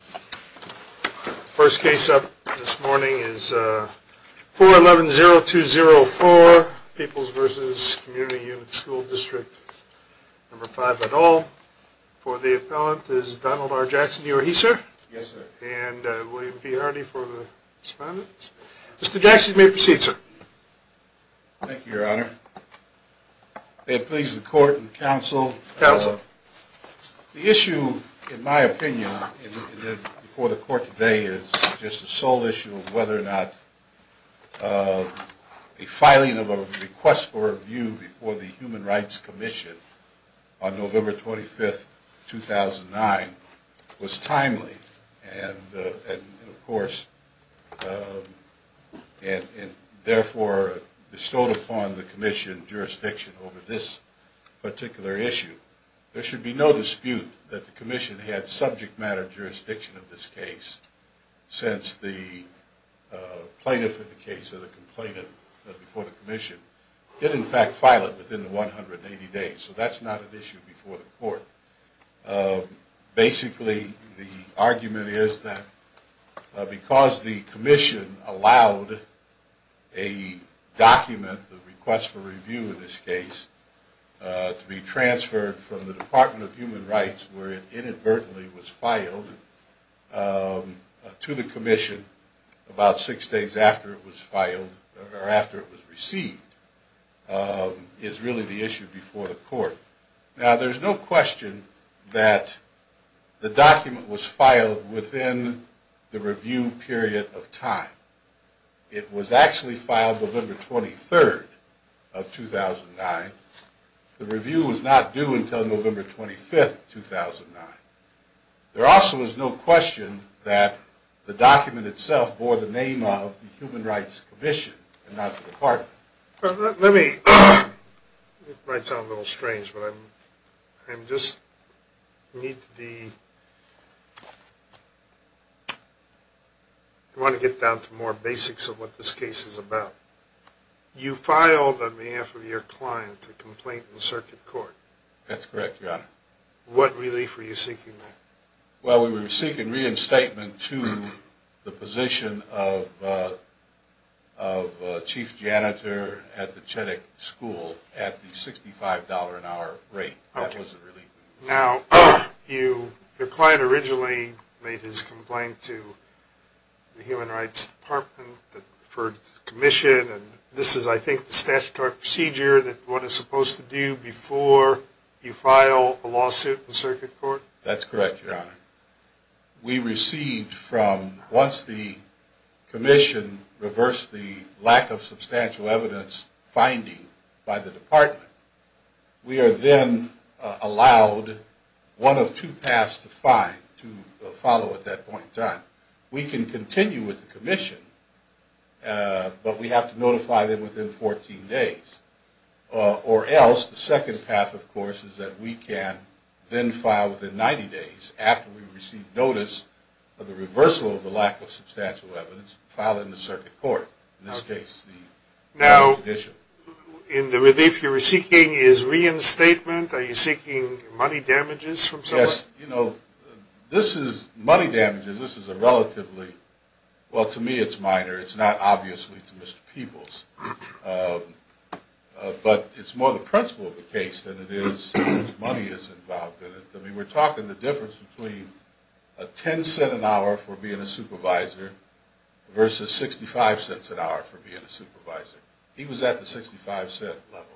The first case up this morning is 411-0204, Peoples v. Community Unit School Dist 5 at all. For the appellant is Donald R. Jackson. Are you a he, sir? Yes, sir. And William P. Hardy for the respondent. Mr. Jackson, you may proceed, sir. Thank you, Your Honor. May it please the Court and the Counsel. Counsel. The issue, in my opinion, before the Court today is just the sole issue of whether or not a filing of a request for review before the Human Rights Commission on November 25, 2009 was timely and, of course, and, therefore, bestowed upon the Commission jurisdiction over this particular issue. There should be no dispute that the Commission had subject matter jurisdiction of this case since the plaintiff in the case or the complainant before the Commission did, in fact, file it within the 180 days. So that's not an issue before the Court. Basically, the argument is that because the Commission allowed a document, the request for review in this case, to be transferred from the Department of Human Rights where it inadvertently was filed to the Commission about six days after it was filed or after it was received is really the issue before the Court. Now, there's no question that the document was filed within the review period of time. It was actually filed November 23rd of 2009. The review was not due until November 25th, 2009. There also is no question that the document itself bore the name of the Human Rights Commission and not the Department. It might sound a little strange, but I just want to get down to more basics of what this case is about. You filed on behalf of your client a complaint in circuit court. That's correct, Your Honor. What relief were you seeking there? Well, we were seeking reinstatement to the position of chief janitor at the Chittick School at the $65 an hour rate. Okay. That was the relief. Now, your client originally made his complaint to the Human Rights Department for the Commission, and this is, I think, the statutory procedure that one is supposed to do before you file a lawsuit in circuit court? That's correct, Your Honor. We received from, once the Commission reversed the lack of substantial evidence finding by the Department, we are then allowed one of two paths to follow at that point in time. We can continue with the Commission, but we have to notify them within 14 days. Or else, the second path, of course, is that we can then file within 90 days after we receive notice of the reversal of the lack of substantial evidence, file it in the circuit court. Okay. Now, in the relief you were seeking is reinstatement? Are you seeking money damages from someone? Yes. You know, this is, money damages, this is a relatively, well, to me it's minor. It's not obviously to Mr. Peebles, but it's more the principle of the case than it is money that's involved in it. I mean, we're talking the difference between a 10 cent an hour for being a supervisor versus 65 cents an hour for being a supervisor. He was at the 65 cent level.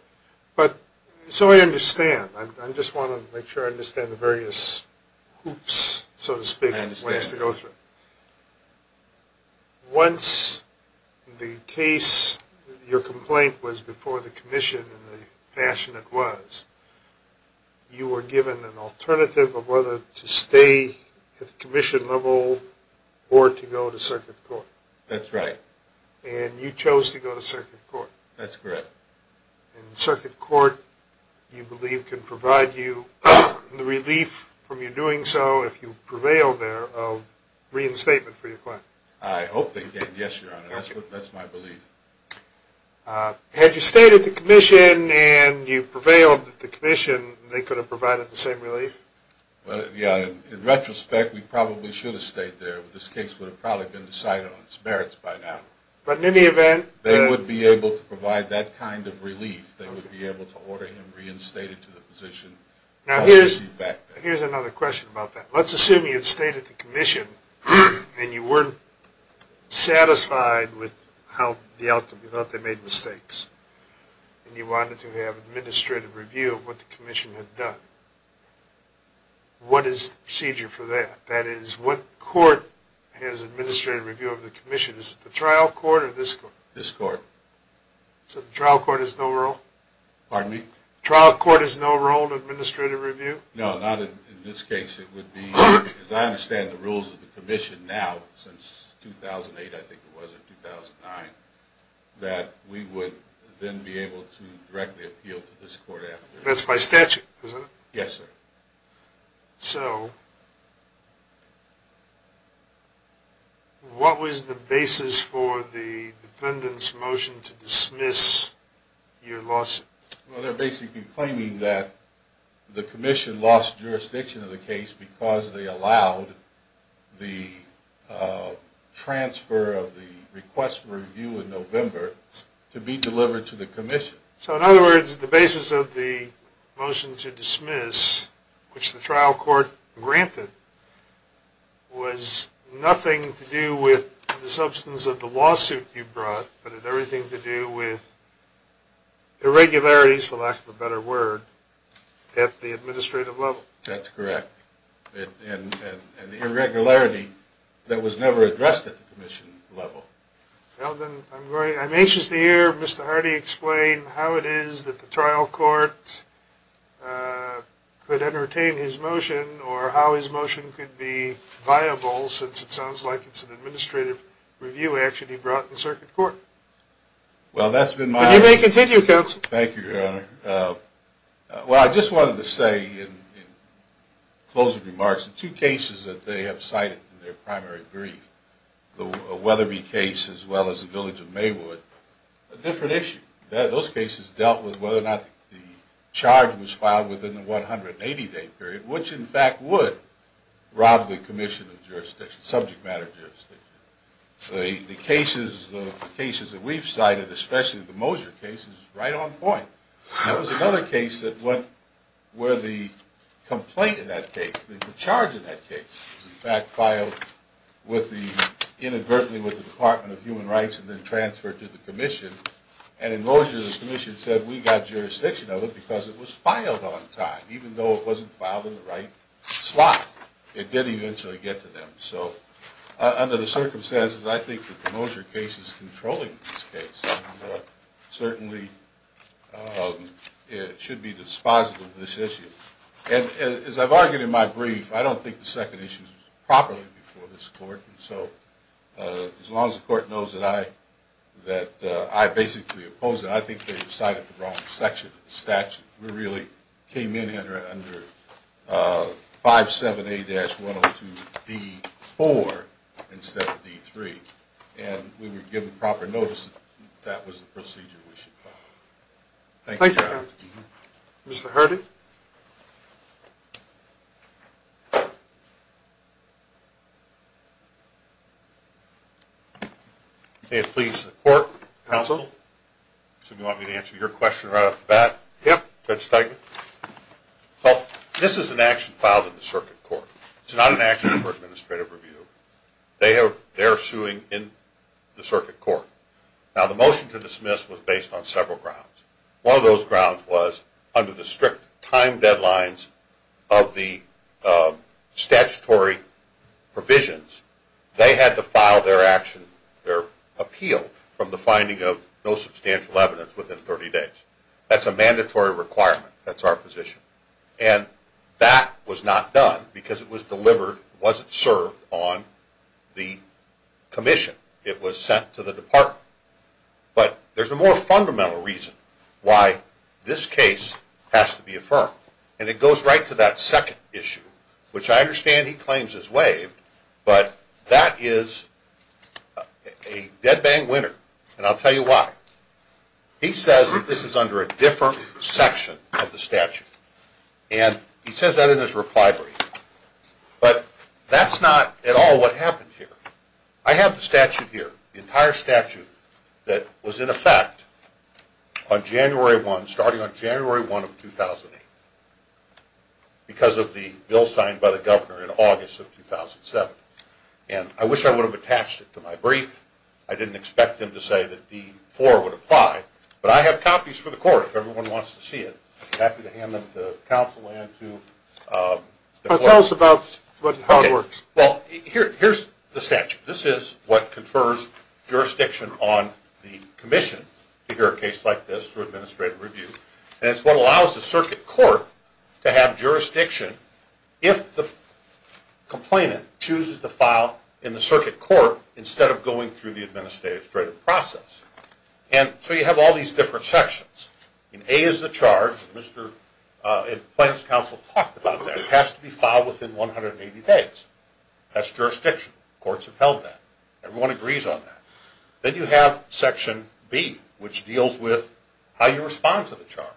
But, so I understand. I just want to make sure I understand the various hoops, so to speak, ways to go through. I understand. Once the case, your complaint was before the Commission in the fashion it was, you were given an alternative of whether to stay at the Commission level or to go to circuit court. That's right. And you chose to go to circuit court. That's correct. And circuit court, you believe, can provide you the relief from your doing so if you prevail there of reinstatement for your claim? I hope they can. Yes, Your Honor. That's my belief. Had you stayed at the Commission and you prevailed at the Commission, they could have provided the same relief? Well, yeah. In retrospect, we probably should have stayed there. This case would have probably been decided on its merits by now. But in any event. They would be able to provide that kind of relief. They would be able to order him reinstated to the position. Now, here's another question about that. Let's assume you had stayed at the Commission and you weren't satisfied with the outcome. You thought they made mistakes. And you wanted to have administrative review of what the Commission had done. What is the procedure for that? That is, what court has administrative review of the Commission? Is it the trial court or this court? This court. So the trial court has no role? Pardon me? Trial court has no role in administrative review? No, not in this case. It would be, as I understand the rules of the Commission now, since 2008, I think it was, or 2009, that we would then be able to directly appeal to this court afterwards. That's by statute, isn't it? Yes, sir. So, what was the basis for the defendant's motion to dismiss your lawsuit? Well, they're basically claiming that the Commission lost jurisdiction of the case because they allowed the transfer of the request for review in November to be delivered to the Commission. So, in other words, the basis of the motion to dismiss, which the trial court granted, was nothing to do with the substance of the lawsuit you brought, but had everything to do with irregularities, for lack of a better word, at the administrative level. That's correct. And the irregularity that was never addressed at the Commission level. Well, then, I'm anxious to hear Mr. Hardy explain how it is that the trial court could entertain his motion, or how his motion could be viable, since it sounds like it's an administrative review action he brought in circuit court. Well, that's been my... You may continue, Counsel. Thank you, Your Honor. Well, I just wanted to say, in closing remarks, the two cases that they have cited in their primary brief, the Weatherby case as well as the Village of Maywood, a different issue. Those cases dealt with whether or not the charge was filed within the 180-day period, which, in fact, would rob the Commission of jurisdiction, subject matter jurisdiction. The cases that we've cited, especially the Moser case, is right on point. That was another case where the complaint in that case, the charge in that case, was, in fact, filed inadvertently with the Department of Human Rights and then transferred to the Commission. And in Moser, the Commission said, we've got jurisdiction of it because it was filed on time, even though it wasn't filed in the right slot. It did eventually get to them. So under the circumstances, I think the Moser case is controlling this case and certainly should be dispositive of this issue. And as I've argued in my brief, I don't think the second issue was properly before this Court. So as long as the Court knows that I basically oppose it, I think they've cited the wrong section of the statute. We really came in under 57A-102D4 instead of D3, and we were given proper notice that that was the procedure we should follow. Thank you, Your Honor. Thank you, counsel. Mr. Hardy? May it please the Court? Counsel? So you want me to answer your question right off the bat? Yeah. Judge Steigman? Well, this is an action filed in the Circuit Court. It's not an action for administrative review. They're suing in the Circuit Court. Now, the motion to dismiss was based on several grounds. One of those grounds was under the strict time deadlines of the statutory provisions, they had to file their action, their appeal from the finding of no substantial evidence within 30 days. That's a mandatory requirement. That's our position. And that was not done because it was delivered, it wasn't served on the commission. It was sent to the Department. But there's a more fundamental reason why this case has to be affirmed, and it goes right to that second issue, which I understand he claims is waived, but that is a dead-bang winner, and I'll tell you why. He says that this is under a different section of the statute, and he says that in his reply brief. But that's not at all what happened here. I have the statute here, the entire statute that was in effect on January 1, starting on January 1 of 2008, because of the bill signed by the governor in August of 2007. I didn't expect him to say that D4 would apply, but I have copies for the court if everyone wants to see it. I'm happy to hand them to counsel and to the court. Tell us about how it works. Well, here's the statute. This is what confers jurisdiction on the commission to hear a case like this through administrative review, and it's what allows the circuit court to have jurisdiction if the complainant chooses to file in the circuit court instead of going through the administrative process. And so you have all these different sections. A is the charge, and the plaintiff's counsel talked about that. It has to be filed within 180 days. That's jurisdiction. Courts have held that. Everyone agrees on that. Then you have section B, which deals with how you respond to the charge.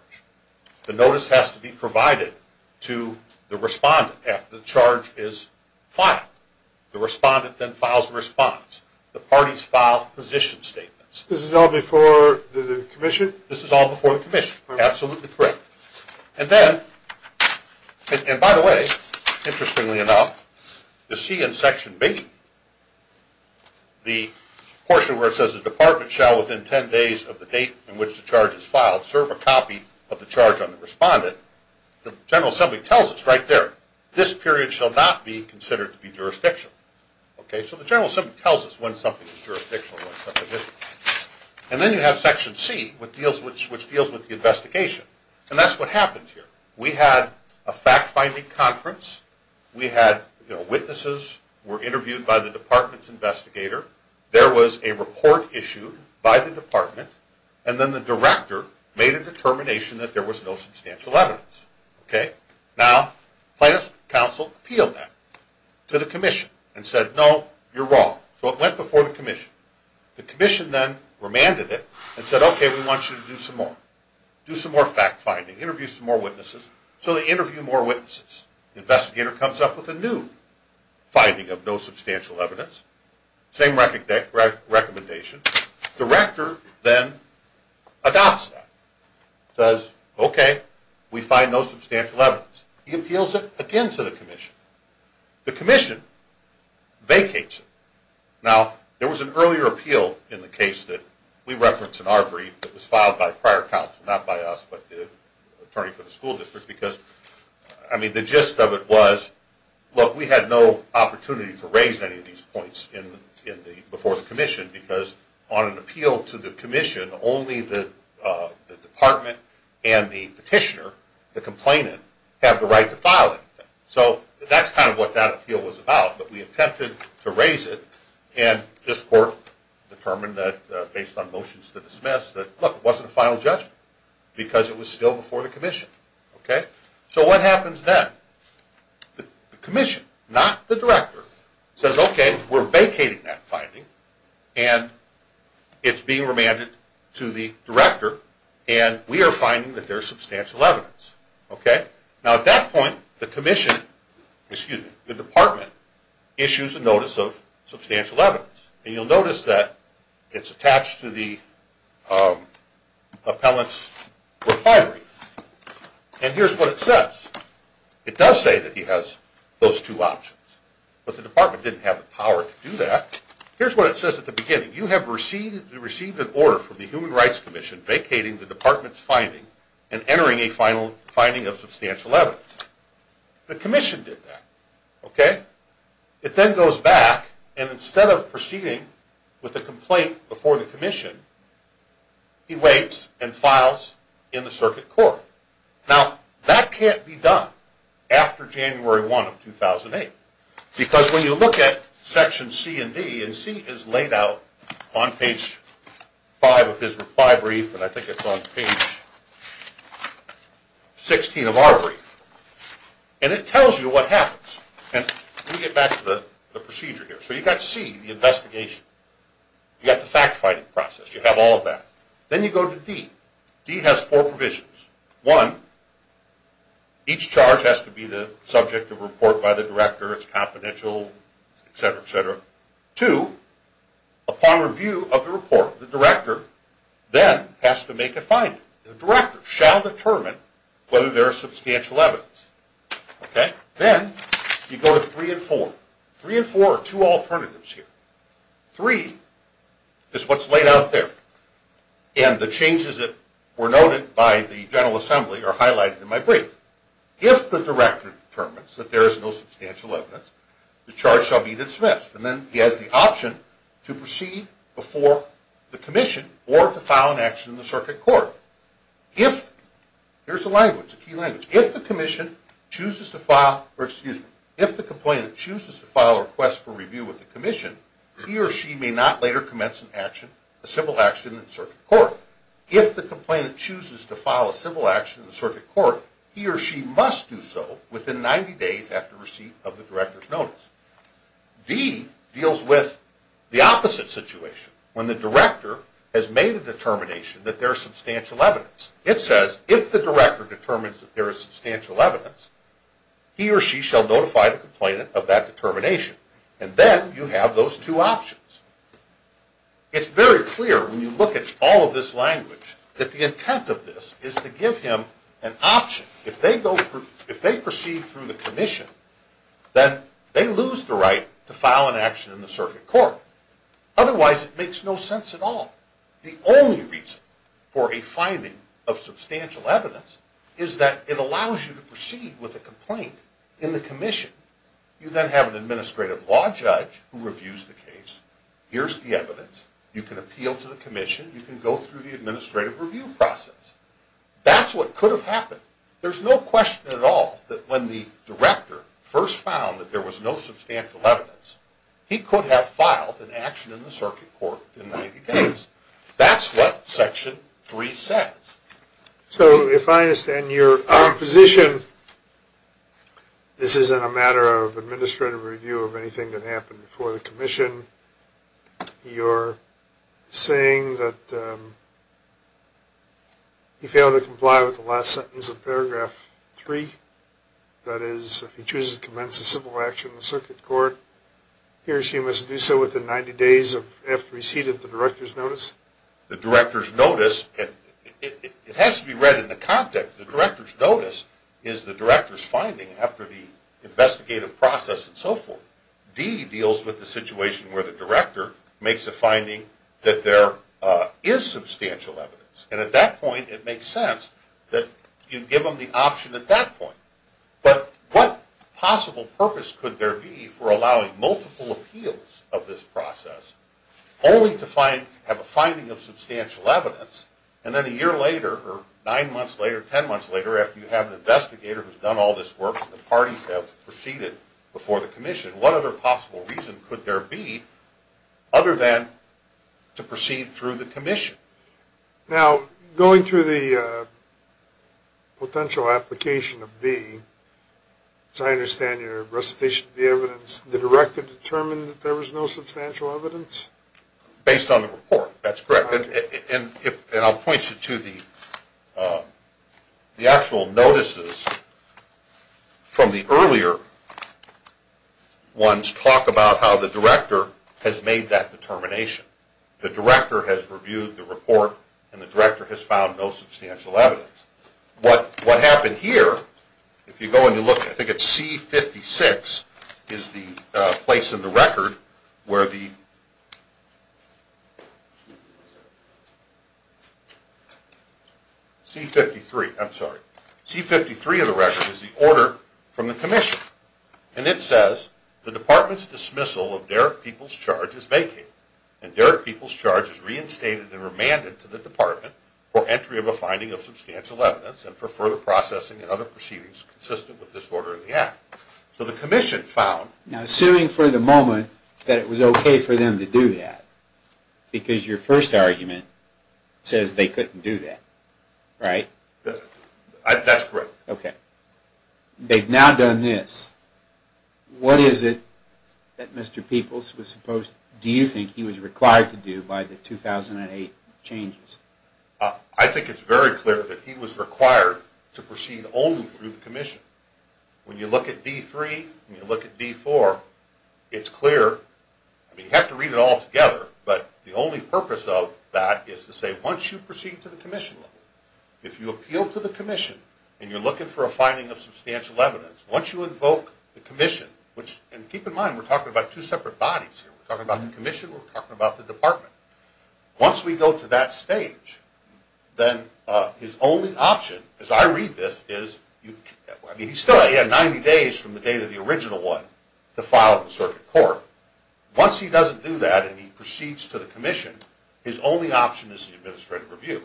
The notice has to be provided to the respondent after the charge is filed. The respondent then files a response. The parties file position statements. This is all before the commission? This is all before the commission. Absolutely correct. And then, and by the way, interestingly enough, you'll see in section B the portion where it says the department shall within 10 days of the date in which the charge is filed serve a copy of the charge on the respondent. The General Assembly tells us right there, this period shall not be considered to be jurisdictional. So the General Assembly tells us when something is jurisdictional and when something isn't. And then you have section C, which deals with the investigation. And that's what happened here. We had a fact-finding conference. We had witnesses were interviewed by the department's investigator. There was a report issued by the department. And then the director made a determination that there was no substantial evidence. Okay? Now, plaintiff's counsel appealed that to the commission and said, no, you're wrong. So it went before the commission. The commission then remanded it and said, okay, we want you to do some more. Do some more fact-finding. Interview some more witnesses. So they interview more witnesses. The investigator comes up with a new finding of no substantial evidence. Same recommendation. Director then adopts that. Says, okay, we find no substantial evidence. He appeals it again to the commission. The commission vacates it. Now, there was an earlier appeal in the case that we referenced in our brief that was filed by prior counsel, not by us, but the attorney for the school district, because, I mean, the gist of it was, look, we had no opportunity to raise any of these points before the commission because on an appeal to the commission, only the department and the petitioner, the complainant, have the right to file it. So that's kind of what that appeal was about. But we attempted to raise it, and this court determined that, based on motions to dismiss, that, look, it wasn't a final judgment because it was still before the commission. Okay? So what happens then? The commission, not the director, says, okay, we're vacating that finding, and it's being remanded to the director, and we are finding that there is substantial evidence. Okay? Now, at that point, the commission, excuse me, the department, issues a notice of substantial evidence. And you'll notice that it's attached to the appellant's reply brief. And here's what it says. It does say that he has those two options. But the department didn't have the power to do that. Here's what it says at the beginning. You have received an order from the Human Rights Commission vacating the department's finding and entering a final finding of substantial evidence. The commission did that. Okay? It then goes back, and instead of proceeding with the complaint before the commission, he waits and files in the circuit court. Now, that can't be done after January 1 of 2008. Because when you look at Section C and D, and C is laid out on page 5 of his reply brief, and I think it's on page 16 of our brief, and it tells you what happens. And let me get back to the procedure here. So you've got C, the investigation. You've got the fact-finding process. You have all of that. Then you go to D. D has four provisions. One, each charge has to be the subject of a report by the director. It's confidential, et cetera, et cetera. Two, upon review of the report, the director then has to make a finding. The director shall determine whether there is substantial evidence. Okay? Then you go to three and four. Three and four are two alternatives here. Three is what's laid out there. And the changes that were noted by the General Assembly are highlighted in my brief. If the director determines that there is no substantial evidence, the charge shall be dismissed. And then he has the option to proceed before the commission or to file an action in the circuit court. Here's a language, a key language. If the complainant chooses to file a request for review with the commission, he or she may not later commence an action, a civil action in the circuit court. If the complainant chooses to file a civil action in the circuit court, he or she must do so within 90 days after receipt of the director's notice. D deals with the opposite situation. When the director has made a determination that there is substantial evidence, it says if the director determines that there is substantial evidence, he or she shall notify the complainant of that determination. And then you have those two options. It's very clear when you look at all of this language that the intent of this is to give him an option. If they proceed through the commission, then they lose the right to file an action in the circuit court. Otherwise, it makes no sense at all. The only reason for a finding of substantial evidence is that it allows you to proceed with a complaint in the commission. You then have an administrative law judge who reviews the case. Here's the evidence. You can appeal to the commission. You can go through the administrative review process. That's what could have happened. There's no question at all that when the director first found that there was no substantial evidence, he could have filed an action in the circuit court within 90 days. That's what Section 3 says. So if I understand your position, this isn't a matter of administrative review of anything that happened before the commission. You're saying that he failed to comply with the last sentence of paragraph 3, that is if he chooses to commence a civil action in the circuit court, he or she must do so within 90 days after he's heeded the director's notice? The director's notice, it has to be read in the context. The director's notice is the director's finding after the investigative process and so forth. D deals with the situation where the director makes a finding that there is substantial evidence. And at that point, it makes sense that you give them the option at that point. But what possible purpose could there be for allowing multiple appeals of this process only to have a finding of substantial evidence? And then a year later or nine months later, ten months later, after you have an investigator who's done all this work and the parties have proceeded before the commission, what other possible reason could there be other than to proceed through the commission? Now, going through the potential application of B, as I understand your recitation of the evidence, does the director determine that there is no substantial evidence? Based on the report, that's correct. And I'll point you to the actual notices from the earlier ones talk about how the director has made that determination. The director has reviewed the report and the director has found no substantial evidence. What happened here, if you go and you look, I think it's C-56 is the place in the record where the C-53, I'm sorry. C-53 of the record is the order from the commission. And it says, the department's dismissal of Derek Peoples' charge is vacated and Derek Peoples' charge is reinstated and remanded to the department for entry of a finding of substantial evidence and for further processing and other proceedings consistent with this order in the act. So the commission found... Now, assuming for the moment that it was okay for them to do that, because your first argument says they couldn't do that, right? That's correct. Okay. They've now done this. What is it that Mr. Peoples was supposed... Do you think he was required to do by the 2008 changes? I think it's very clear that he was required to proceed only through the commission. When you look at D-3 and you look at D-4, it's clear. You have to read it all together, but the only purpose of that is to say once you proceed to the commission level, if you appeal to the commission and you're looking for a finding of substantial evidence, once you invoke the commission, which... And keep in mind we're talking about two separate bodies here. We're talking about the commission. We're talking about the department. Once we go to that stage, then his only option, as I read this, is... I mean, he still has 90 days from the date of the original one to file the circuit court. Once he doesn't do that and he proceeds to the commission, his only option is the administrative review.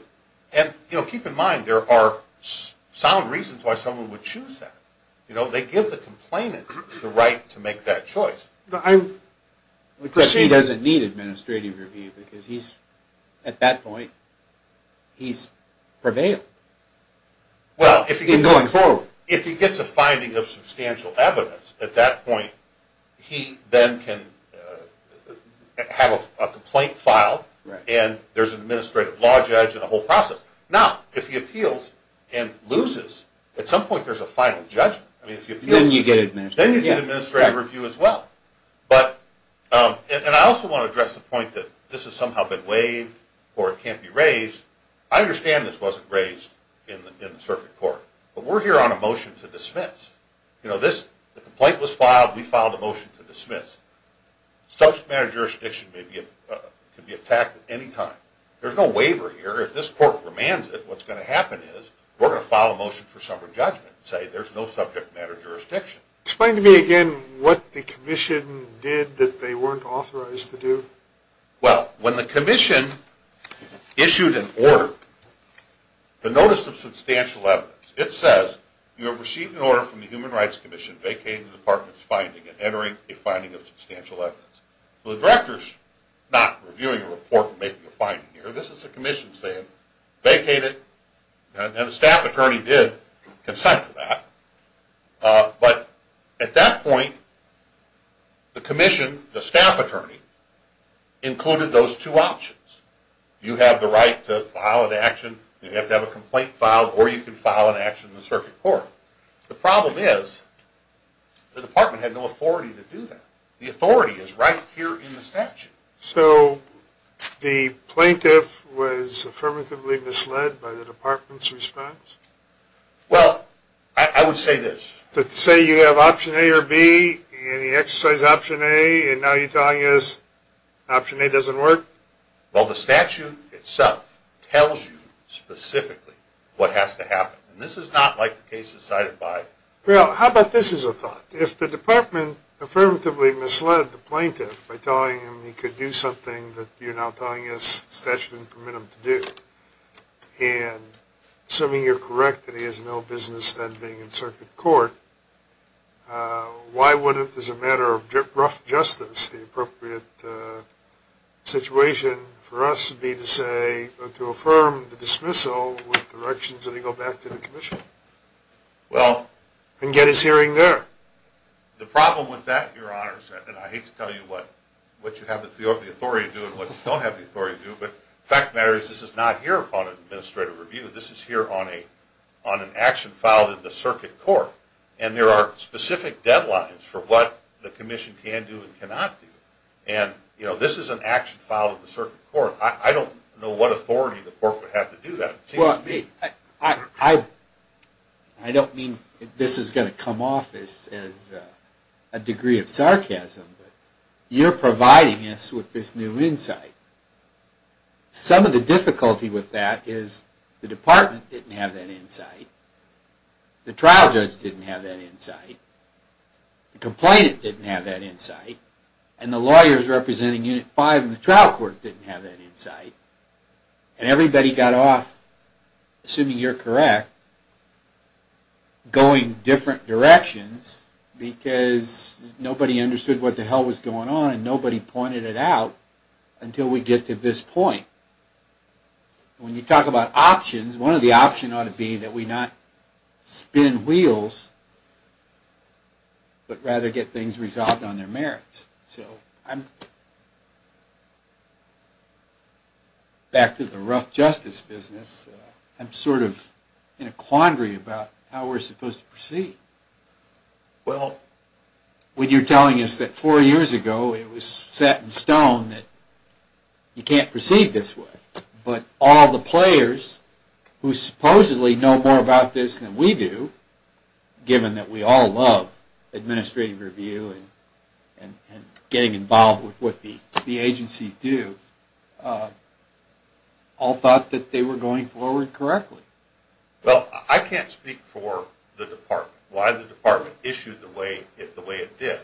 Keep in mind there are sound reasons why someone would choose that. They give the complainant the right to make that choice. He doesn't need administrative review because he's, at that point, he's prevailed. He's going forward. If he gets a finding of substantial evidence, at that point he then can have a complaint filed and there's an administrative law judge and a whole process. Now, if he appeals and loses, at some point there's a final judgment. Then you get administrative review as well. And I also want to address the point that this has somehow been waived or it can't be raised. I understand this wasn't raised in the circuit court, but we're here on a motion to dismiss. We filed a motion to dismiss. Subject matter jurisdiction can be attacked at any time. There's no waiver here. If this court commands it, what's going to happen is we're going to file a motion for summary judgment and say there's no subject matter jurisdiction. Explain to me again what the commission did that they weren't authorized to do. Well, when the commission issued an order, the notice of substantial evidence, it says you have received an order from the Human Rights Commission vacating the department's finding and entering a finding of substantial evidence. Well, the director's not reviewing a report and making a finding here. This is the commission saying vacate it. And the staff attorney did consent to that. But at that point, the commission, the staff attorney, included those two options. You have the right to file an action, you have to have a complaint filed, or you can file an action in the circuit court. The problem is the department had no authority to do that. The authority is right here in the statute. So the plaintiff was affirmatively misled by the department's response? Well, I would say this. Say you have option A or B, and you exercise option A, and now you're telling us option A doesn't work? Well, the statute itself tells you specifically what has to happen. And this is not like the cases cited by ______. Well, how about this as a thought? If the department affirmatively misled the plaintiff by telling him he could do something that you're now telling us the statute didn't permit him to do, and assuming you're correct that he has no business then being in circuit court, why wouldn't, as a matter of rough justice, the appropriate situation for us to be to say, to affirm the dismissal with directions that he go back to the commission and get his hearing there? The problem with that, Your Honor, and I hate to tell you what you have the authority to do and what you don't have the authority to do, but the fact of the matter is this is not here upon administrative review. This is here on an action filed in the circuit court, and there are specific deadlines for what the commission can do and cannot do. And this is an action filed in the circuit court. I don't know what authority the court would have to do that. Well, I don't mean this is going to come off as a degree of sarcasm, but you're providing us with this new insight. Some of the difficulty with that is the department didn't have that insight, the trial judge didn't have that insight, the complainant didn't have that insight, and the lawyers representing Unit 5 in the trial court didn't have that insight. And everybody got off, assuming you're correct, going different directions, because nobody understood what the hell was going on and nobody pointed it out until we get to this point. When you talk about options, one of the options ought to be that we not spin wheels, but rather get things resolved on their merits. Back to the rough justice business, I'm sort of in a quandary about how we're supposed to proceed. Well, when you're telling us that four years ago it was set in stone that you can't proceed this way, but all the players who supposedly know more about this than we do, given that we all love administrative review and getting involved with what the agencies do, all thought that they were going forward correctly. Well, I can't speak for the department, why the department issued the way it did,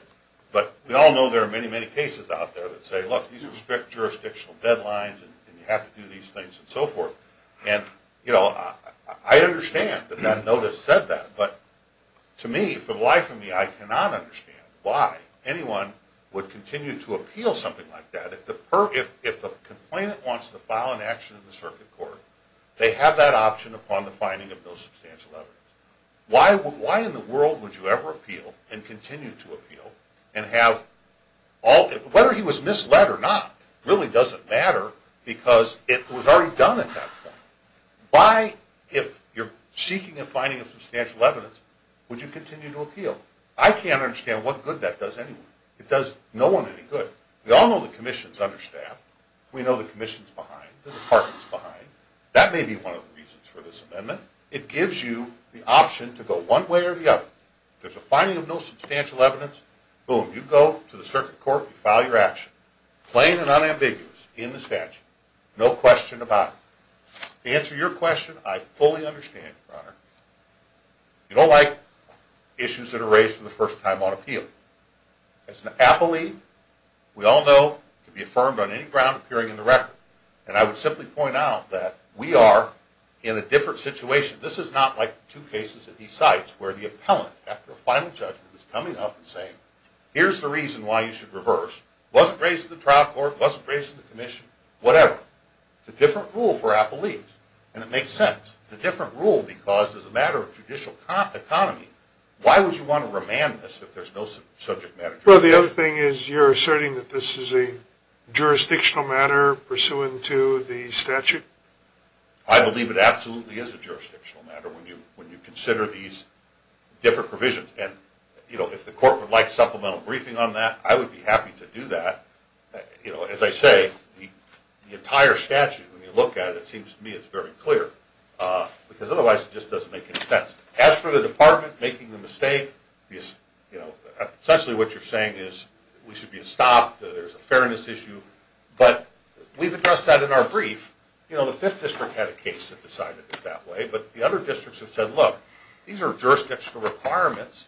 but we all know there are many, many cases out there that say, look, these are jurisdictional deadlines and you have to do these things and so forth. And, you know, I understand that that notice said that, but to me, for the life of me, I cannot understand why anyone would continue to appeal something like that if the complainant wants to file an action in the circuit court, they have that option upon the finding of no substantial evidence. Why in the world would you ever appeal, and continue to appeal, whether he was misled or not really doesn't matter because it was already done at that point. Why, if you're seeking a finding of substantial evidence, would you continue to appeal? I can't understand what good that does anyone. It does no one any good. We all know the commission's understaffed. We know the commission's behind, the department's behind. That may be one of the reasons for this amendment. It gives you the option to go one way or the other. If there's a finding of no substantial evidence, boom, you go to the circuit court, you file your action, plain and unambiguous, in the statute, no question about it. To answer your question, I fully understand, Your Honor. You don't like issues that are raised for the first time on appeal. As an appellee, we all know it can be affirmed on any ground appearing in the record, and I would simply point out that we are in a different situation. This is not like the two cases that he cites where the appellant, after a final judgment, is coming up and saying, here's the reason why you should reverse. It wasn't raised in the trial court. It wasn't raised in the commission. Whatever. It's a different rule for appellees, and it makes sense. It's a different rule because, as a matter of judicial economy, why would you want to remand this if there's no subject matter? Well, the other thing is you're asserting that this is a jurisdictional matter pursuant to the statute? I believe it absolutely is a jurisdictional matter when you consider these different provisions, and if the court would like supplemental briefing on that, I would be happy to do that. As I say, the entire statute, when you look at it, it seems to me it's very clear because otherwise it just doesn't make any sense. As for the department making the mistake, essentially what you're saying is we should be stopped, there's a fairness issue, but we've addressed that in our brief. The Fifth District had a case that decided it that way, but the other districts have said, look, these are jurisdictional requirements.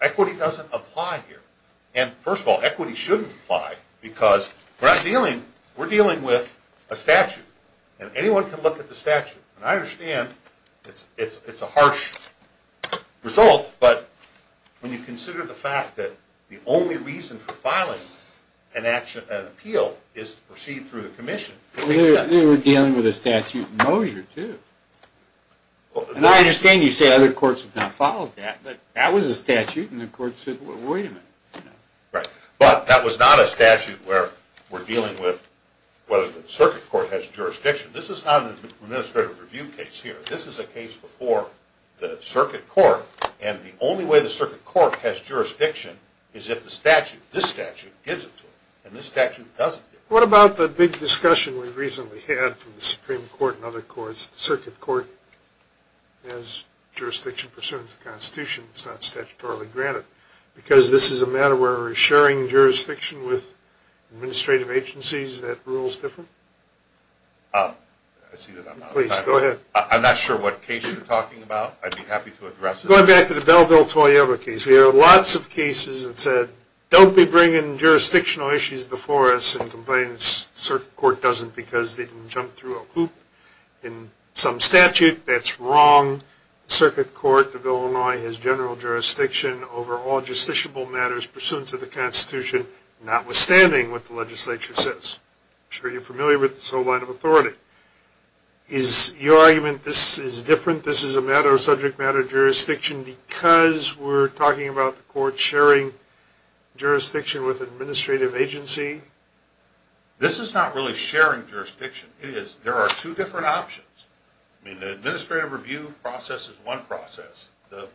Equity doesn't apply here. First of all, equity shouldn't apply because we're dealing with a statute, and anyone can look at the statute. I understand it's a harsh result, but when you consider the fact that the only reason for filing an appeal is to proceed through the commission. We were dealing with a statute in Mosier, too, and I understand you say other courts have not followed that, but that was a statute and the court said, well, wait a minute. Right, but that was not a statute where we're dealing with whether the circuit court has jurisdiction. This is not an administrative review case here. This is a case before the circuit court, and the only way the circuit court has jurisdiction is if the statute, this statute, gives it to it, and this statute doesn't give it to it. What about the big discussion we recently had from the Supreme Court and other courts, the circuit court has jurisdiction pursuant to the Constitution, it's not statutorily granted, because this is a matter where we're sharing jurisdiction with administrative agencies that rules differ? I see that I'm out of time. Please, go ahead. I'm not sure what case you're talking about. I'd be happy to address it. Going back to the Belleville-Toyota case, there are lots of cases that said, don't be bringing jurisdictional issues before us, and complain the circuit court doesn't because they can jump through a hoop. In some statute, that's wrong. The circuit court, the Bill of Illinois, has general jurisdiction over all justiciable matters pursuant to the Constitution, notwithstanding what the legislature says. I'm sure you're familiar with this whole line of authority. Is your argument this is different, this is a matter of subject matter jurisdiction, because we're talking about the court sharing jurisdiction with an administrative agency? This is not really sharing jurisdiction. There are two different options. The administrative review process is one process. The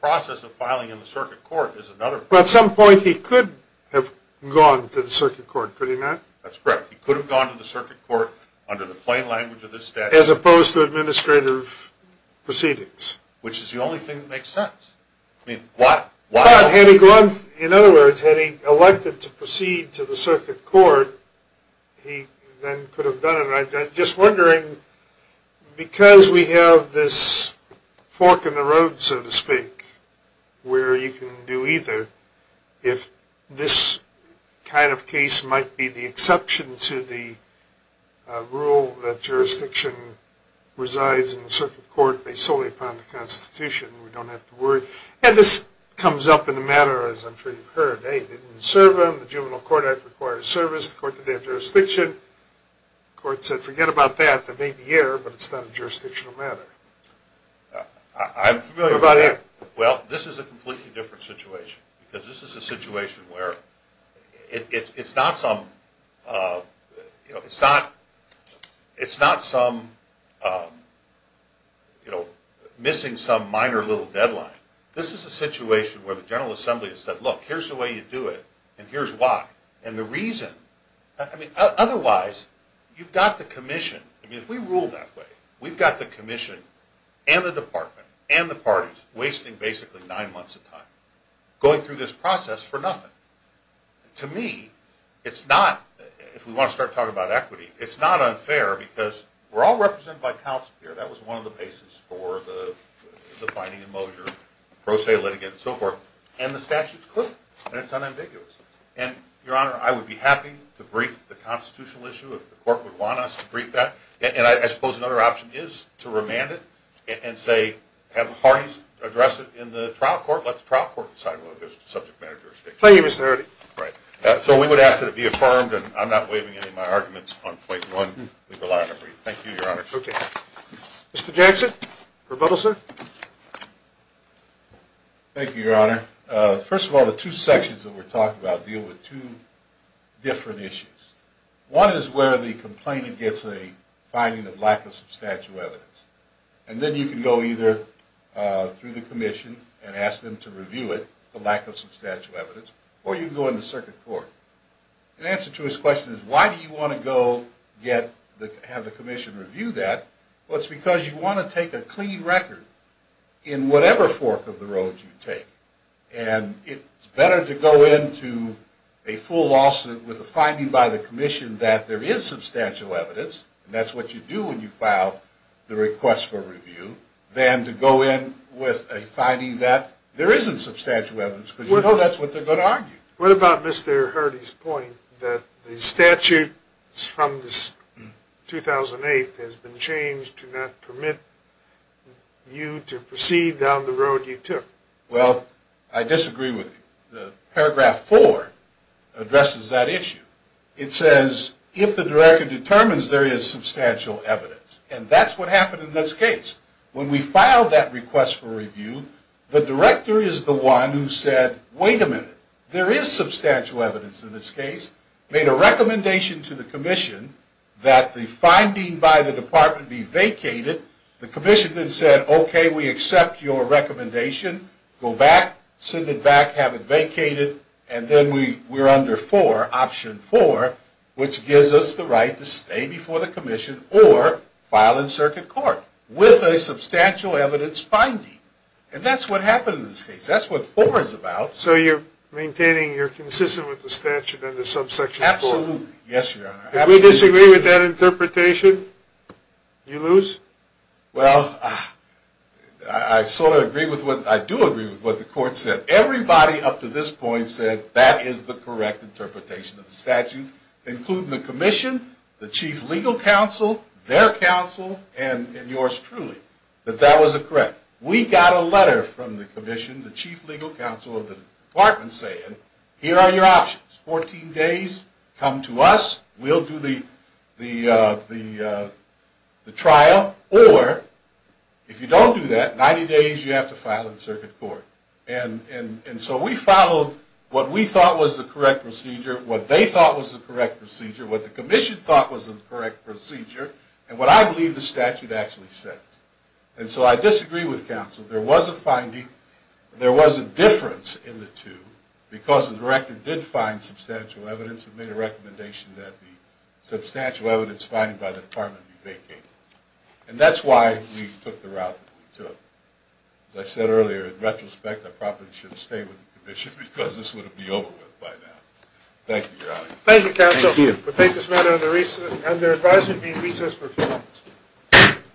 process of filing in the circuit court is another process. At some point, he could have gone to the circuit court, could he not? That's correct. He could have gone to the circuit court under the plain language of this statute. As opposed to administrative proceedings. Which is the only thing that makes sense. In other words, had he elected to proceed to the circuit court, he then could have done it. I'm just wondering, because we have this fork in the road, so to speak, where you can do either, if this kind of case might be the exception to the rule that jurisdiction resides in the circuit court based solely upon the Constitution. We don't have to worry. This comes up in the matter, as I'm sure you've heard. They didn't serve him. The Juvenile Court Act requires service. The court didn't have jurisdiction. The court said, forget about that. That may be air, but it's not a jurisdictional matter. I'm familiar with that. Well, this is a completely different situation. Because this is a situation where it's not some missing some minor little deadline. This is a situation where the General Assembly has said, look, here's the way you do it, and here's why. Otherwise, you've got the commission. If we rule that way, we've got the commission and the department and the parties wasting basically nine months of time going through this process for nothing. To me, it's not, if we want to start talking about equity, it's not unfair, because we're all represented by counsel here. That was one of the bases for the finding of Mosier, pro se litigant, and so forth. And the statute's clear, and it's unambiguous. And, Your Honor, I would be happy to brief the constitutional issue, if the court would want us to brief that. And I suppose another option is to remand it and say, have the parties address it in the trial court. Let the trial court decide whether there's subject matter jurisdiction. Thank you, Mr. Erty. Right. So we would ask that it be affirmed, and I'm not waiving any of my arguments on point one. We rely on a brief. Thank you, Your Honor. Okay. Mr. Jackson, rebuttal, sir? Thank you, Your Honor. First of all, the two sections that we're talking about deal with two different issues. One is where the complainant gets a finding of lack of substantial evidence. And then you can go either through the commission and ask them to review it, the lack of substantial evidence, or you can go into circuit court. And the answer to his question is, why do you want to go have the commission review that? Well, it's because you want to take a clean record in whatever fork of the road you take. And it's better to go into a full lawsuit with a finding by the commission that there is substantial evidence, and that's what you do when you file the request for review, than to go in with a finding that there isn't substantial evidence, because you know that's what they're going to argue. What about Mr. Hardy's point that the statute from 2008 has been changed to not permit you to proceed down the road you took? Well, I disagree with you. Paragraph 4 addresses that issue. It says, if the director determines there is substantial evidence, and that's what happened in this case. When we filed that request for review, the director is the one who said, wait a minute. There is substantial evidence in this case. Made a recommendation to the commission that the finding by the department be vacated. The commission then said, okay, we accept your recommendation. Go back, send it back, have it vacated, and then we're under 4, option 4, which gives us the right to stay before the commission or file in circuit court with a substantial evidence finding. And that's what happened in this case. That's what 4 is about. So you're maintaining you're consistent with the statute under subsection 4? Absolutely. Yes, Your Honor. Do we disagree with that interpretation? Do you lose? Well, I sort of agree with what, I do agree with what the court said. Everybody up to this point said that is the correct interpretation of the statute, including the commission, the chief legal counsel, their counsel, and yours truly, that that was correct. But we got a letter from the commission, the chief legal counsel of the department saying, here are your options, 14 days, come to us, we'll do the trial, or if you don't do that, 90 days you have to file in circuit court. And so we followed what we thought was the correct procedure, what they thought was the correct procedure, what the commission thought was the correct procedure, and what I believe the statute actually says. And so I disagree with counsel. There was a finding, there was a difference in the two, because the director did find substantial evidence and made a recommendation that the substantial evidence finding by the department be vacated. And that's why we took the route that we took. As I said earlier, in retrospect, I probably should have stayed with the commission because this would have been over with by now. Thank you, Your Honor. Thank you, counsel. Thank you. We'll take this matter under advisement being recessed for a few minutes.